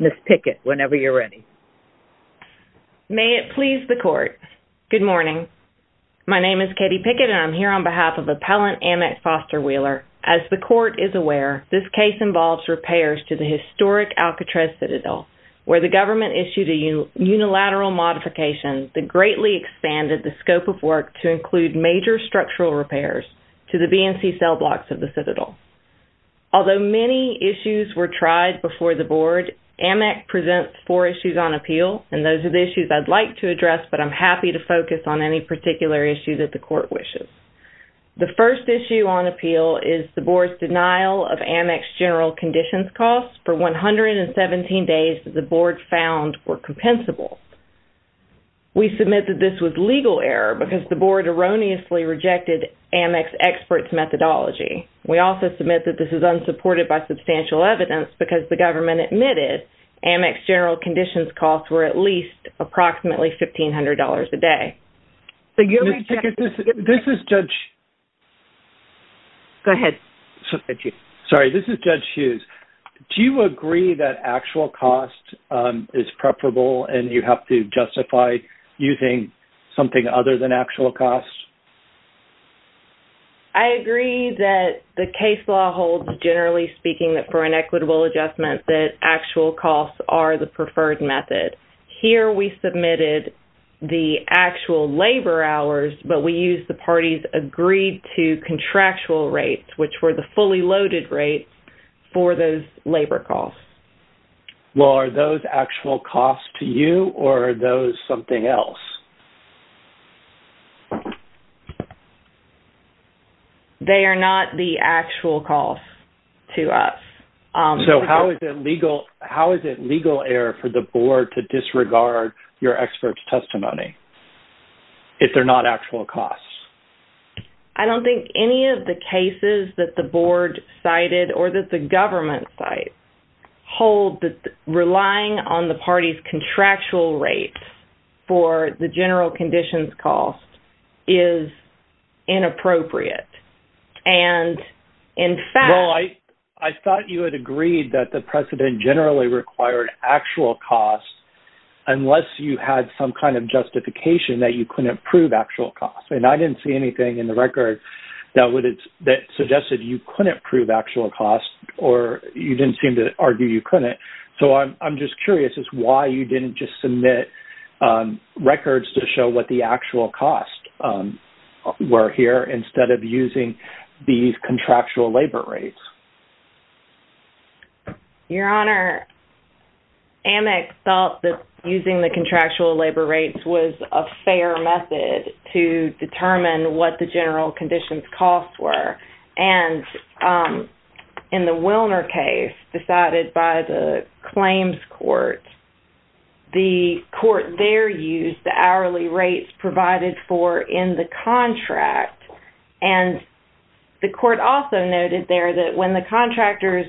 Ms. Pickett, whenever you're ready. May it please the Court, good morning. My name is Katie Pickett and I'm here on behalf of Appellant Amec Foster Wheeler. As the Court is aware, this case involves repairs to the historic Alcatraz Citadel, where the government issued a unilateral modification that greatly expanded the scope of work to the BNC cell blocks of the Citadel. Although many issues were tried before the Board, Amec presents four issues on appeal and those are the issues I'd like to address, but I'm happy to focus on any particular issue that the Court wishes. The first issue on appeal is the Board's denial of Amec's general conditions costs for 117 days that the Board found were compensable. We submit that this was legal error because the Board erroneously rejected Amec's experts' methodology. We also submit that this is unsupported by substantial evidence because the government admitted Amec's general conditions costs were at least approximately $1,500 a day. So you may check. This is Judge... Go ahead. Sorry, this is Judge Hughes. Do you agree that actual cost is preferable and you have to justify using something other than actual cost? I agree that the case law holds, generally speaking, that for an equitable adjustment that actual costs are the preferred method. Here we submitted the actual labor hours, but we used the parties' agreed-to contractual rates, which were the fully loaded rates, for those labor costs. Well, are those actual costs to you or are those something else? They are not the actual costs to us. So how is it legal error for the Board to disregard your experts' testimony if they're not actual costs? I don't think any of the cases that the Board cited or that the government cited hold that relying on the parties' contractual rates for the general conditions costs is inappropriate. And in fact... Well, I thought you had agreed that the precedent generally required actual costs unless you had some kind of justification that you couldn't approve actual costs. And I didn't see anything in the record that suggested you couldn't approve actual costs or you didn't seem to argue you couldn't. So I'm just curious as to why you didn't just submit records to show what the actual costs were here instead of using these contractual labor rates. Your Honor, Amex felt that using the contractual labor rates was a fair method to determine what the general conditions costs were. And in the Wilner case decided by the claims court, the court there used the hourly rates provided for in the contract. And the court also noted there that when the contractor's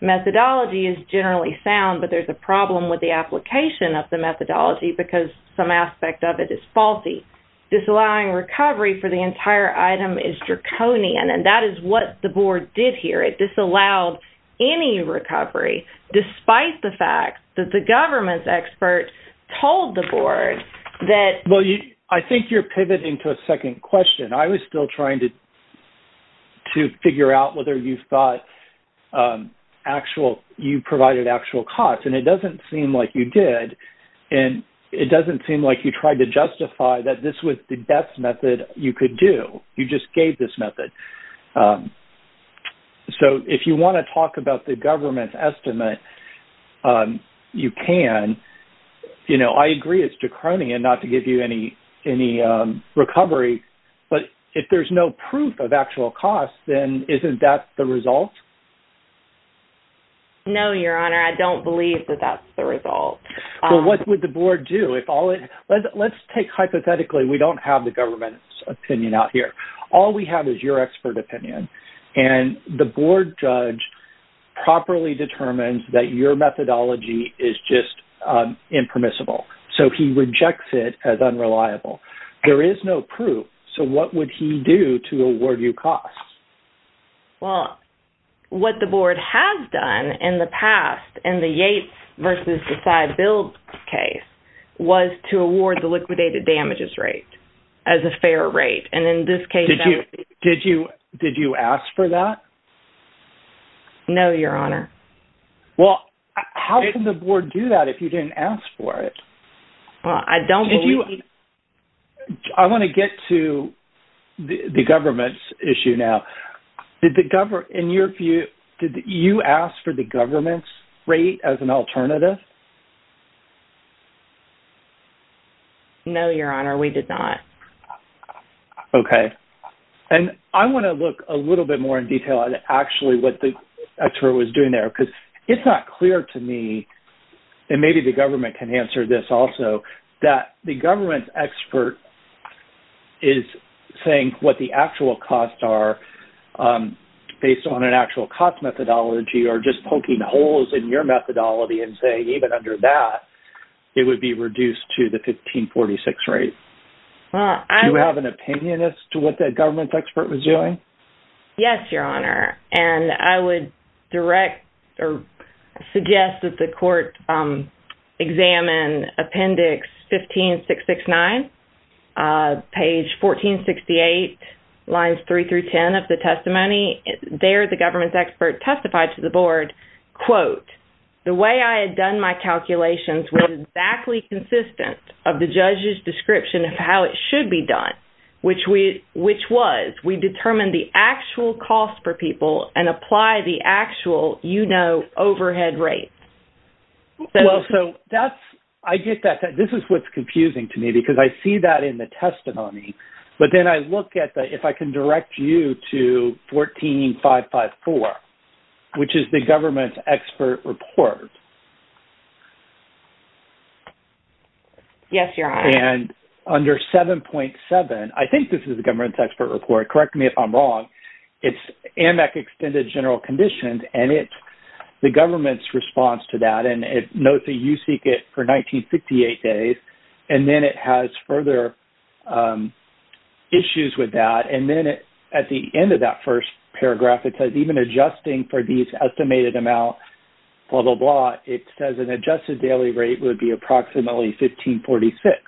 methodology is generally sound, but there's a problem with the application of the methodology because some aspect of it is faulty, disallowing recovery for the entire item is draconian. And that is what the Board did here. It disallowed any recovery despite the fact that the government's expert told the Board that... Well, I think you're pivoting to a second question. I was still trying to figure out whether you thought actual... You provided actual costs and it doesn't seem like you did. And it doesn't seem like you tried to justify that this was the best method you could do. You just gave this method. So if you want to talk about the government's estimate, you can. You know, I agree it's draconian not to give you any recovery, but if there's no proof of actual costs, then isn't that the result? No, Your Honor. I don't believe that that's the result. Well, what would the Board do if all it... Let's take hypothetically, we don't have the government's opinion out here. All we have is your expert opinion. And the Board judge properly determines that your methodology is just impermissible. So he rejects it as unreliable. There is no proof. So what would he do to award you costs? Well, what the Board has done in the past in the Yates versus Decide-Build case was to award the liquidated damages rate as a fair rate. And in this case... Did you ask for that? No, Your Honor. Well, how can the Board do that if you didn't ask for it? I don't believe... Did you... I want to get to the government's issue now. Did the government... In your view, did you ask for the government's rate as an alternative? No, Your Honor. We did not. Okay. And I want to look a little bit more in detail at actually what the expert was doing there because it's not clear to me, and maybe the government can answer this also, that the government's expert is saying what the actual costs are based on an actual cost methodology or just poking holes in your methodology and saying even under that, it would be reduced to the 1546 rate. Do you have an opinion as to what that government's expert was doing? Yes, Your Honor. And I would direct or suggest that the court examine Appendix 15669, page 1468, lines 3 through 10 of the testimony. There the government's expert testified to the Board, quote, the way I had done my calculations was exactly consistent of the judge's description of how it should be done, which was we determined the actual cost per people and apply the actual, you know, overhead rate. Well, so that's... I get that. This is what's confusing to me because I see that in the testimony, but then I look at that if I can direct you to 14554, which is the government's expert report. Yes, Your Honor. And under 7.7, I think this is the government's expert report. Correct me if I'm wrong. It's AMEC Extended General Conditions and it's the government's response to that. And then it notes that you seek it for 1968 days and then it has further issues with that. And then at the end of that first paragraph, it says even adjusting for these estimated amounts, blah, blah, blah, it says an adjusted daily rate would be approximately 1546.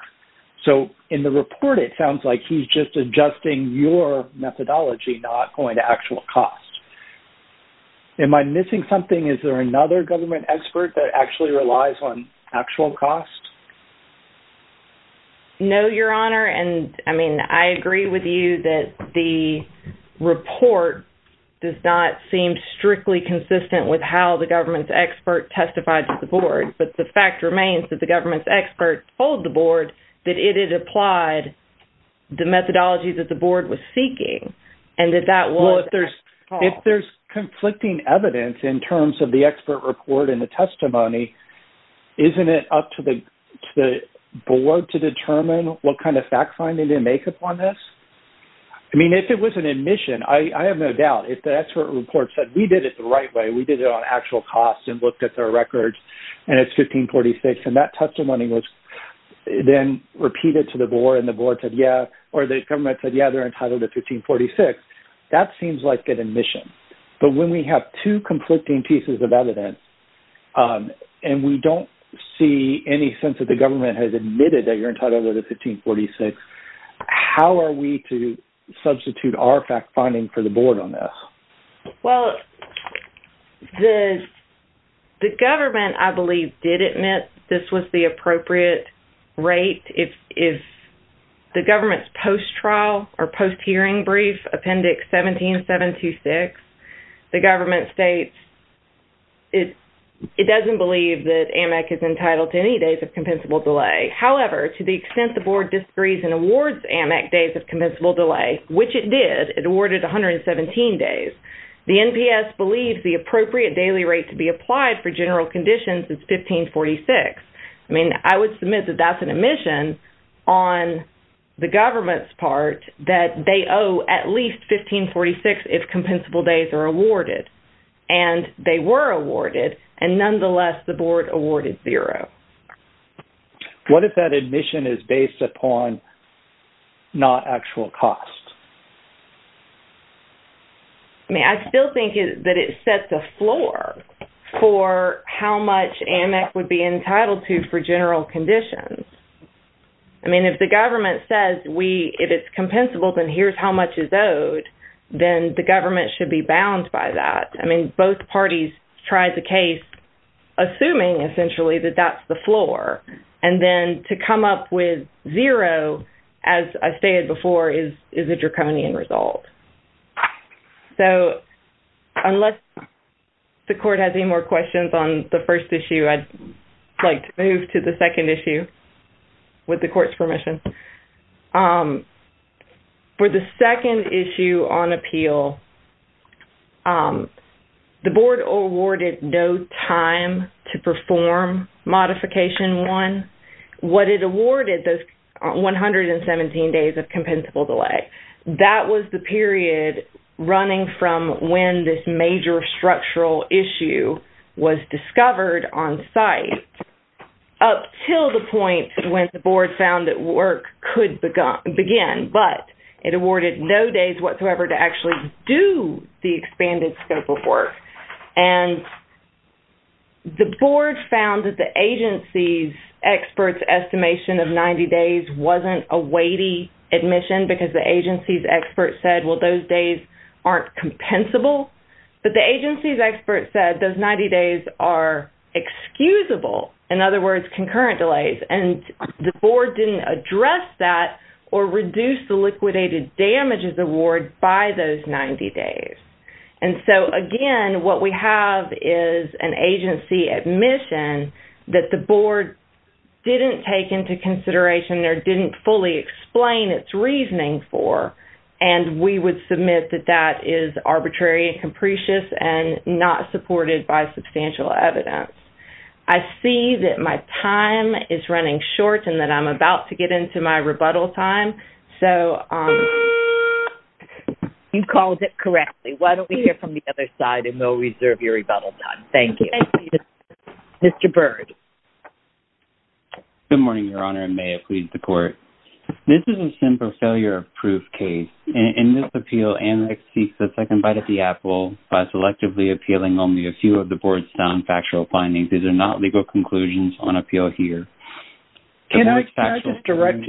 So in the report, it sounds like he's just adjusting your methodology, not going to actual cost. Am I missing something? Is there another government expert that actually relies on actual cost? No, Your Honor. And I mean, I agree with you that the report does not seem strictly consistent with how the government's expert testified to the board. But the fact remains that the government's expert told the board that it had applied the methodology that the board was seeking and that that was... Well, if there's conflicting evidence in terms of the expert report and the testimony, isn't it up to the board to determine what kind of fact-finding they make upon this? I mean, if it was an admission, I have no doubt, if the expert report said, we did it the right way, we did it on actual cost and looked at their records and it's 1546, and that testimony was then repeated to the board and the board said, yeah, or the government said, yeah, they're entitled to 1546, that seems like an admission. But when we have two conflicting pieces of evidence and we don't see any sense that the government has admitted that you're entitled to 1546, how are we to substitute our fact-finding for the board on this? Well, the government, I believe, did admit this was the appropriate rate. If the government's post-trial or post-hearing brief, Appendix 17726, the government states it doesn't believe that AMAC is entitled to any days of compensable delay. However, to the extent the board disagrees and awards AMAC days of compensable delay, which it did, it awarded 117 days, the NPS believes the appropriate daily rate to be applied for general conditions is 1546. I mean, I would submit that that's an admission on the government's part that they owe at least 1546 if compensable days are awarded. And they were awarded, and nonetheless, the board awarded zero. What if that admission is based upon not actual cost? I mean, I still think that it sets a floor for how much AMAC would be entitled to for general conditions. I mean, if the government says, if it's compensable, then here's how much is owed, then the government should be bound by that. I mean, both parties tried the case assuming, essentially, that that's the floor. And then to come up with zero, as I stated before, is a draconian result. So unless the court has any more questions on the first issue, I'd like to move to the second issue with the court's permission. For the second issue on appeal, the board awarded no time to perform Modification 1. What it awarded, those 117 days of compensable delay, that was the period running from when this major structural issue was discovered on site up till the point when the board found that work could begin, but it awarded no days whatsoever to actually do the expanded scope of work. And the board found that the agency's expert's estimation of 90 days wasn't a weighty admission because the agency's expert said, well, those days aren't compensable. But the agency's expert said those 90 days are excusable, in other words, concurrent delays. And the board didn't address that or reduce the liquidated damages award by those 90 days. And so, again, what we have is an agency admission that the board didn't take into consideration or didn't fully explain its reasoning for, and we would submit that that is arbitrary and capricious and not supported by substantial evidence. I see that my time is running short and that I'm about to get into my rebuttal time. So... You called it correctly. Why don't we hear from the other side, and they'll reserve your rebuttal time. Thank you. Mr. Byrd. Good morning, Your Honor, and may it please the Court. This is a simple failure of proof case. In this appeal, Anne seeks a second bite at the apple by selectively appealing only a These are not legal conclusions on appeal here. Can I direct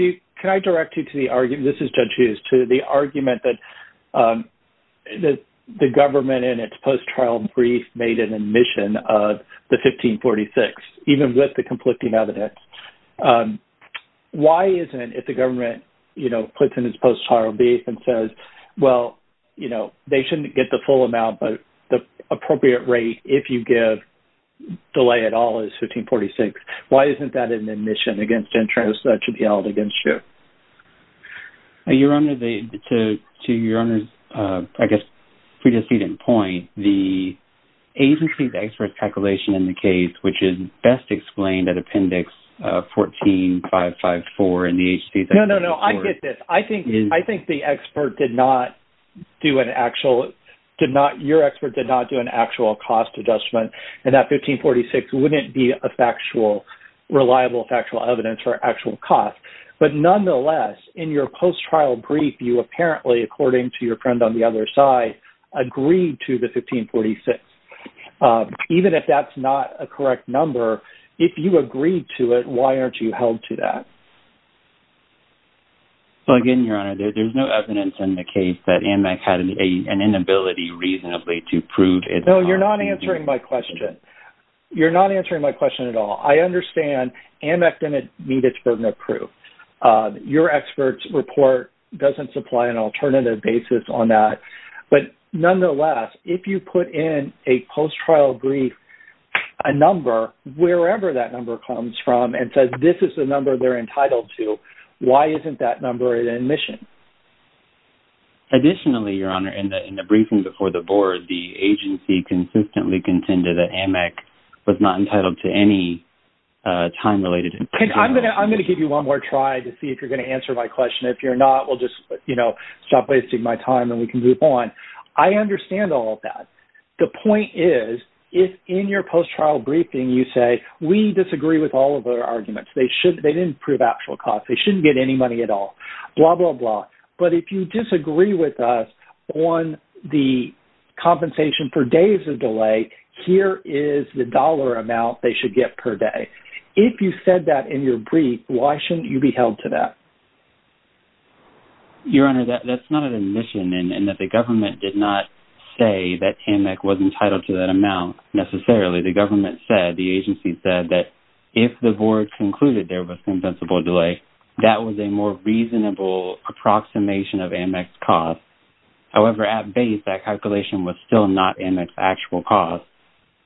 you to the argument? This is Judge Hughes. To the argument that the government in its post-trial brief made an admission of the 1546, even with the conflicting evidence. Why isn't it the government, you know, puts in its post-trial brief and says, well, you shouldn't get the full amount, but the appropriate rate, if you give delay at all, is 1546. Why isn't that an admission against interest that should be held against you? Your Honor, to Your Honor's, I guess, pre-deceded point, the agency's expert calculation in the case, which is best explained at Appendix 14554 in the agency's... No, no, no. I get this. I think the expert did not do an actual... Your expert did not do an actual cost adjustment, and that 1546 wouldn't be a factual, reliable factual evidence for actual cost. But nonetheless, in your post-trial brief, you apparently, according to your friend on the other side, agreed to the 1546. Even if that's not a correct number, if you agreed to it, why aren't you held to that? Well, again, Your Honor, there's no evidence in the case that AMAC had an inability reasonably to prove its... No, you're not answering my question. You're not answering my question at all. I understand AMAC didn't meet its burden of proof. Your expert's report doesn't supply an alternative basis on that. But nonetheless, if you put in a post-trial brief, a number, wherever that number comes from, and says this is the number they're entitled to, why isn't that number in admission? Additionally, Your Honor, in the briefing before the board, the agency consistently contended that AMAC was not entitled to any time-related information. I'm going to give you one more try to see if you're going to answer my question. If you're not, we'll just, you know, stop wasting my time, and we can move on. I understand all of that. The point is, if in your post-trial briefing you say, we disagree with all of their arguments, they didn't prove actual costs, they shouldn't get any money at all, blah, blah, blah. But if you disagree with us on the compensation for days of delay, here is the dollar amount they should get per day. If you said that in your brief, why shouldn't you be held to that? Your Honor, that's not an admission, and that the government did not say that AMAC was entitled to that amount, necessarily. The government said, the agency said, that if the board concluded there was compensable delay, that was a more reasonable approximation of AMAC's cost. However, at base, that calculation was still not AMAC's actual cost,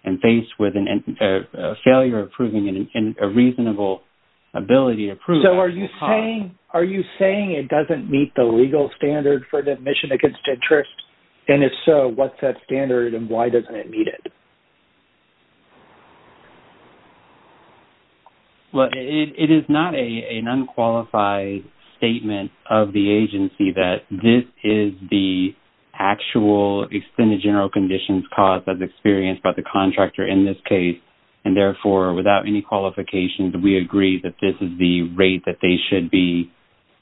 and faced with a failure of proving it, and a reasonable ability to prove that cost. So, are you saying it doesn't meet the legal standard for the admission against interest? And if so, what's that standard, and why doesn't it meet it? Well, it is not an unqualified statement of the agency that this is the actual extended general conditions cost that's experienced by the contractor in this case, and therefore, without any qualifications, we agree that this is the rate that they should be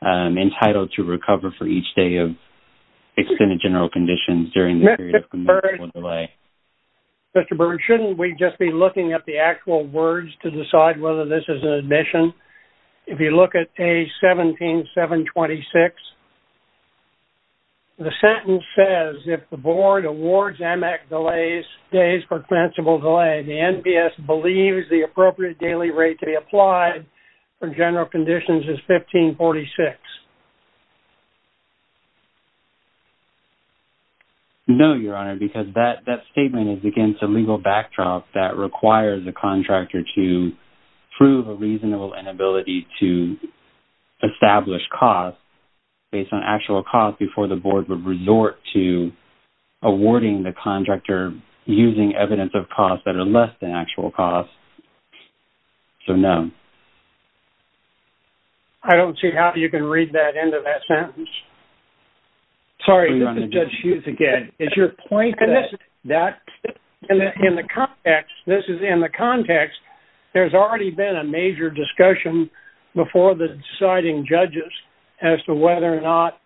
entitled to recover for each day of extended general conditions during the period of compensable delay. Mr. Burns, shouldn't we just be looking at the actual words to decide whether this is an admission? If you look at page 17, 726, the sentence says, if the board awards AMAC delays, days for compensable delay, the NPS believes the appropriate daily rate to be applied for general conditions is 1546. No, Your Honor, because that statement is against a legal backdrop that requires the contractor to prove a reasonable inability to establish cost based on actual cost before the board would resort to awarding the contractor using evidence of cost that are less than actual cost, so no. I don't see how you can read that end of that sentence. Sorry, this is Judge Hughes again. It's your point that in the context, this is in the context, there's already been a discussion about whether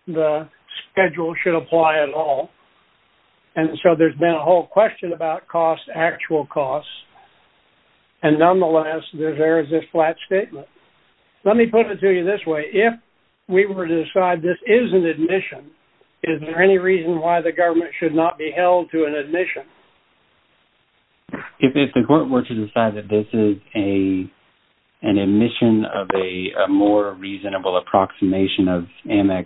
schedule should apply at all, and so there's been a whole question about cost, actual cost, and nonetheless, there's this flat statement. Let me put it to you this way. If we were to decide this is an admission, is there any reason why the government should not be held to an admission? If the court were to decide that this is an admission of a more reasonable approximation of AMEX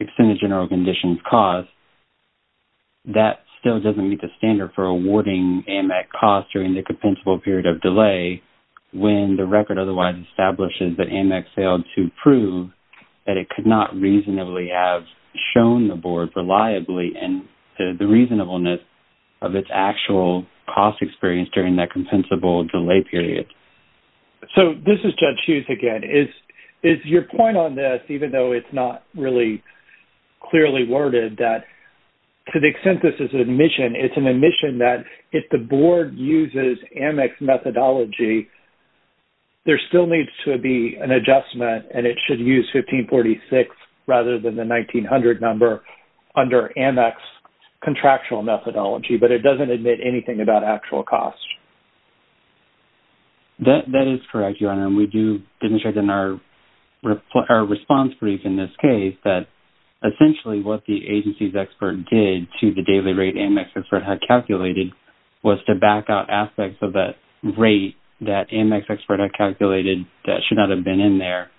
extended general conditions cost, that still doesn't meet the standard for awarding AMEX cost during the compensable period of delay when the record otherwise establishes that AMEX failed to prove that it could not reasonably have shown the board reliably and the reasonableness of its actual cost experience during that compensable delay period. So, this is Judge Hughes again. It's your point on this, even though it's not really clearly worded, that to the extent this is an admission, it's an admission that if the board uses AMEX methodology, there still needs to be an adjustment and it should use 1546 rather than the 1900 number under AMEX contractual methodology, but it doesn't admit anything about actual cost. That is correct, Your Honor, and we do demonstrate in our response brief in this case that essentially what the agency's expert did to the daily rate AMEX expert had calculated was to back out aspects of that rate that AMEX expert had calculated that should not have been in there.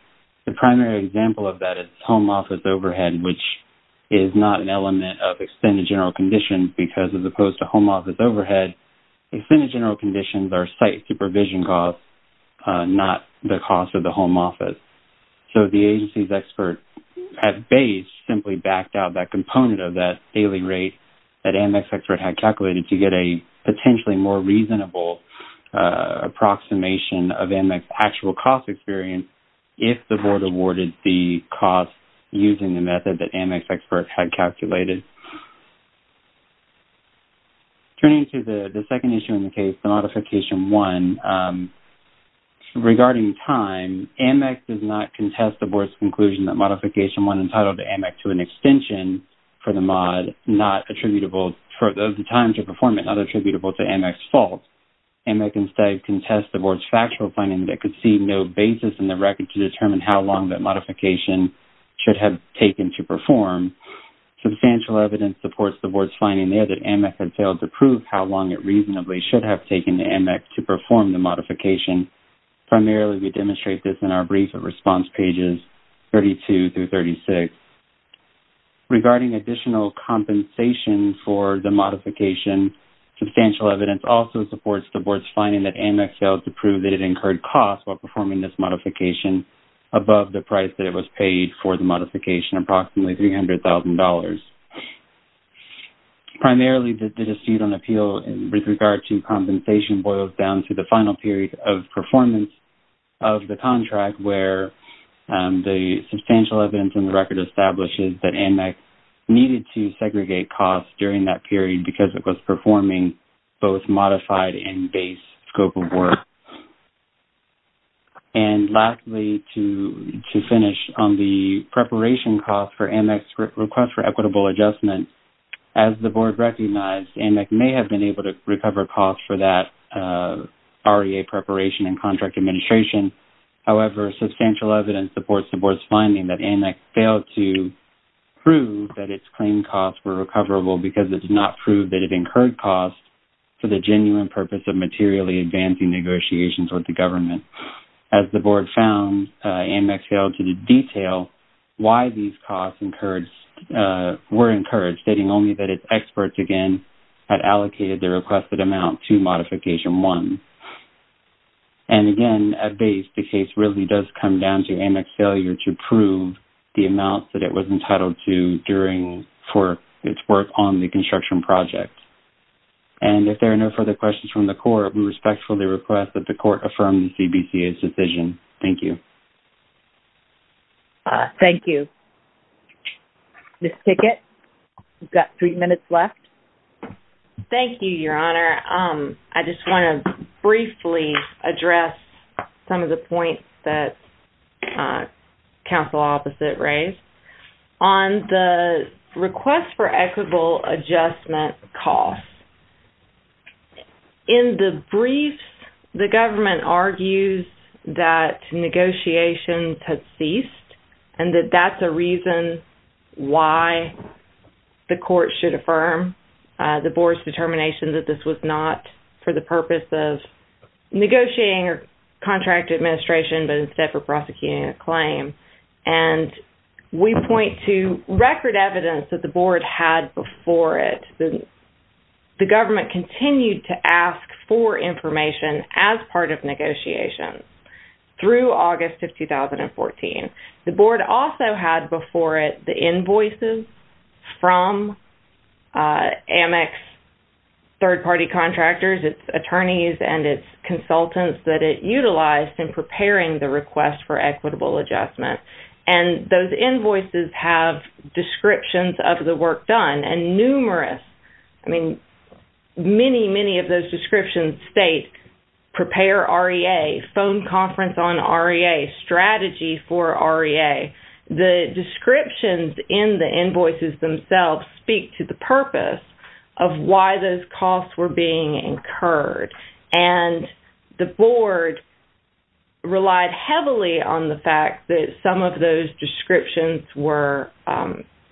The primary example of that is home office overhead, which is not an element of extended general conditions because as opposed to home office overhead, extended general conditions are site supervision costs, not the cost of the home office. So, the agency's expert at base simply backed out that component of that daily rate that AMEX expert had calculated to get a potentially more reasonable approximation of AMEX actual cost experience if the board awarded the cost using the method that AMEX expert had calculated. Turning to the second issue in the case, the Modification 1, regarding time, AMEX does not contest the board's conclusion that Modification 1 entitled AMEX to an extension for the time to perform it not attributable to AMEX fault. AMEX instead contests the board's factual finding that could see no basis in the record to determine how long that modification should have taken to perform. Substantial evidence supports the board's finding there that AMEX had failed to prove how long it reasonably should have taken AMEX to perform the modification. Primarily, we demonstrate this in our brief response pages 32 through 36. Regarding additional compensation for the modification, substantial evidence also supports the board's finding that AMEX failed to prove that it incurred costs while performing this modification, approximately $300,000. Primarily, the dispute on appeal with regard to compensation boils down to the final period of performance of the contract where the substantial evidence in the record establishes that AMEX needed to segregate costs during that period because it was performing both modified and base scope of work. Lastly, to finish on the preparation cost for AMEX request for equitable adjustment, as the board recognized, AMEX may have been able to recover costs for that REA preparation and contract administration. However, substantial evidence supports the board's finding that AMEX failed to prove that its claimed costs were recoverable because it did not prove that it incurred costs for the genuine purpose of materially advancing negotiations with the government. As the board found, AMEX failed to detail why these costs were incurred, stating only that its experts, again, had allocated the requested amount to Modification 1. And again, at base, the case really does come down to AMEX failure to prove the amount that it was entitled to during its work on the construction project. And if there are no further questions from the court, we respectfully request that the court affirm CBCA's decision. Thank you. Thank you. Ms. Tickett, you've got three minutes left. Thank you, Your Honor. I just want to briefly address some of the points that counsel opposite raised. On the request for equitable adjustment costs, in the brief, the government argues that negotiations had ceased and that that's a reason why the court should affirm the board's determination that this was not for the purpose of negotiating or contract administration, but instead for prosecuting a claim. And we point to record evidence that the board had before it. The government continued to ask for information as part of negotiations through August of 2014. The board also had before it the invoices from AMEX third-party contractors, its attorneys, and its consultants that it utilized in preparing the request for equitable adjustment. And those invoices have descriptions of the work done and numerous, I mean, many, many of those descriptions state prepare REA, phone conference on REA, strategy for REA. The descriptions in the invoices themselves speak to the purpose of why those costs were being incurred. And the board relied heavily on the fact that some of those descriptions were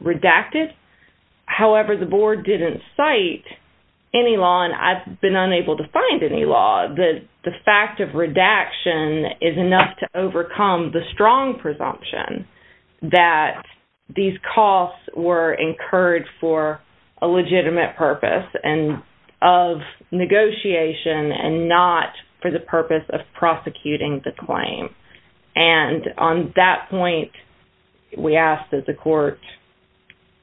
redacted. However, the board didn't cite any law, and I've been unable to find any law, that the fact of redaction is enough to overcome the strong presumption that these costs were incurred for a legitimate purpose and of negotiation and not for the purpose of prosecuting the claim. And on that point, we ask that the court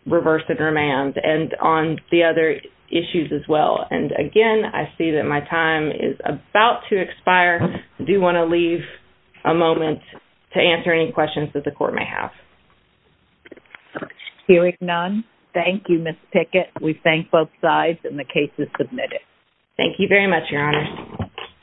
reverse the command and on the other issues as well. And again, I see that my time is about to expire. I do want to leave a moment to answer any questions that the court may have. Hearing none, thank you, Ms. Pickett. We thank both sides, and the case is submitted. Thank you very much, Your Honor.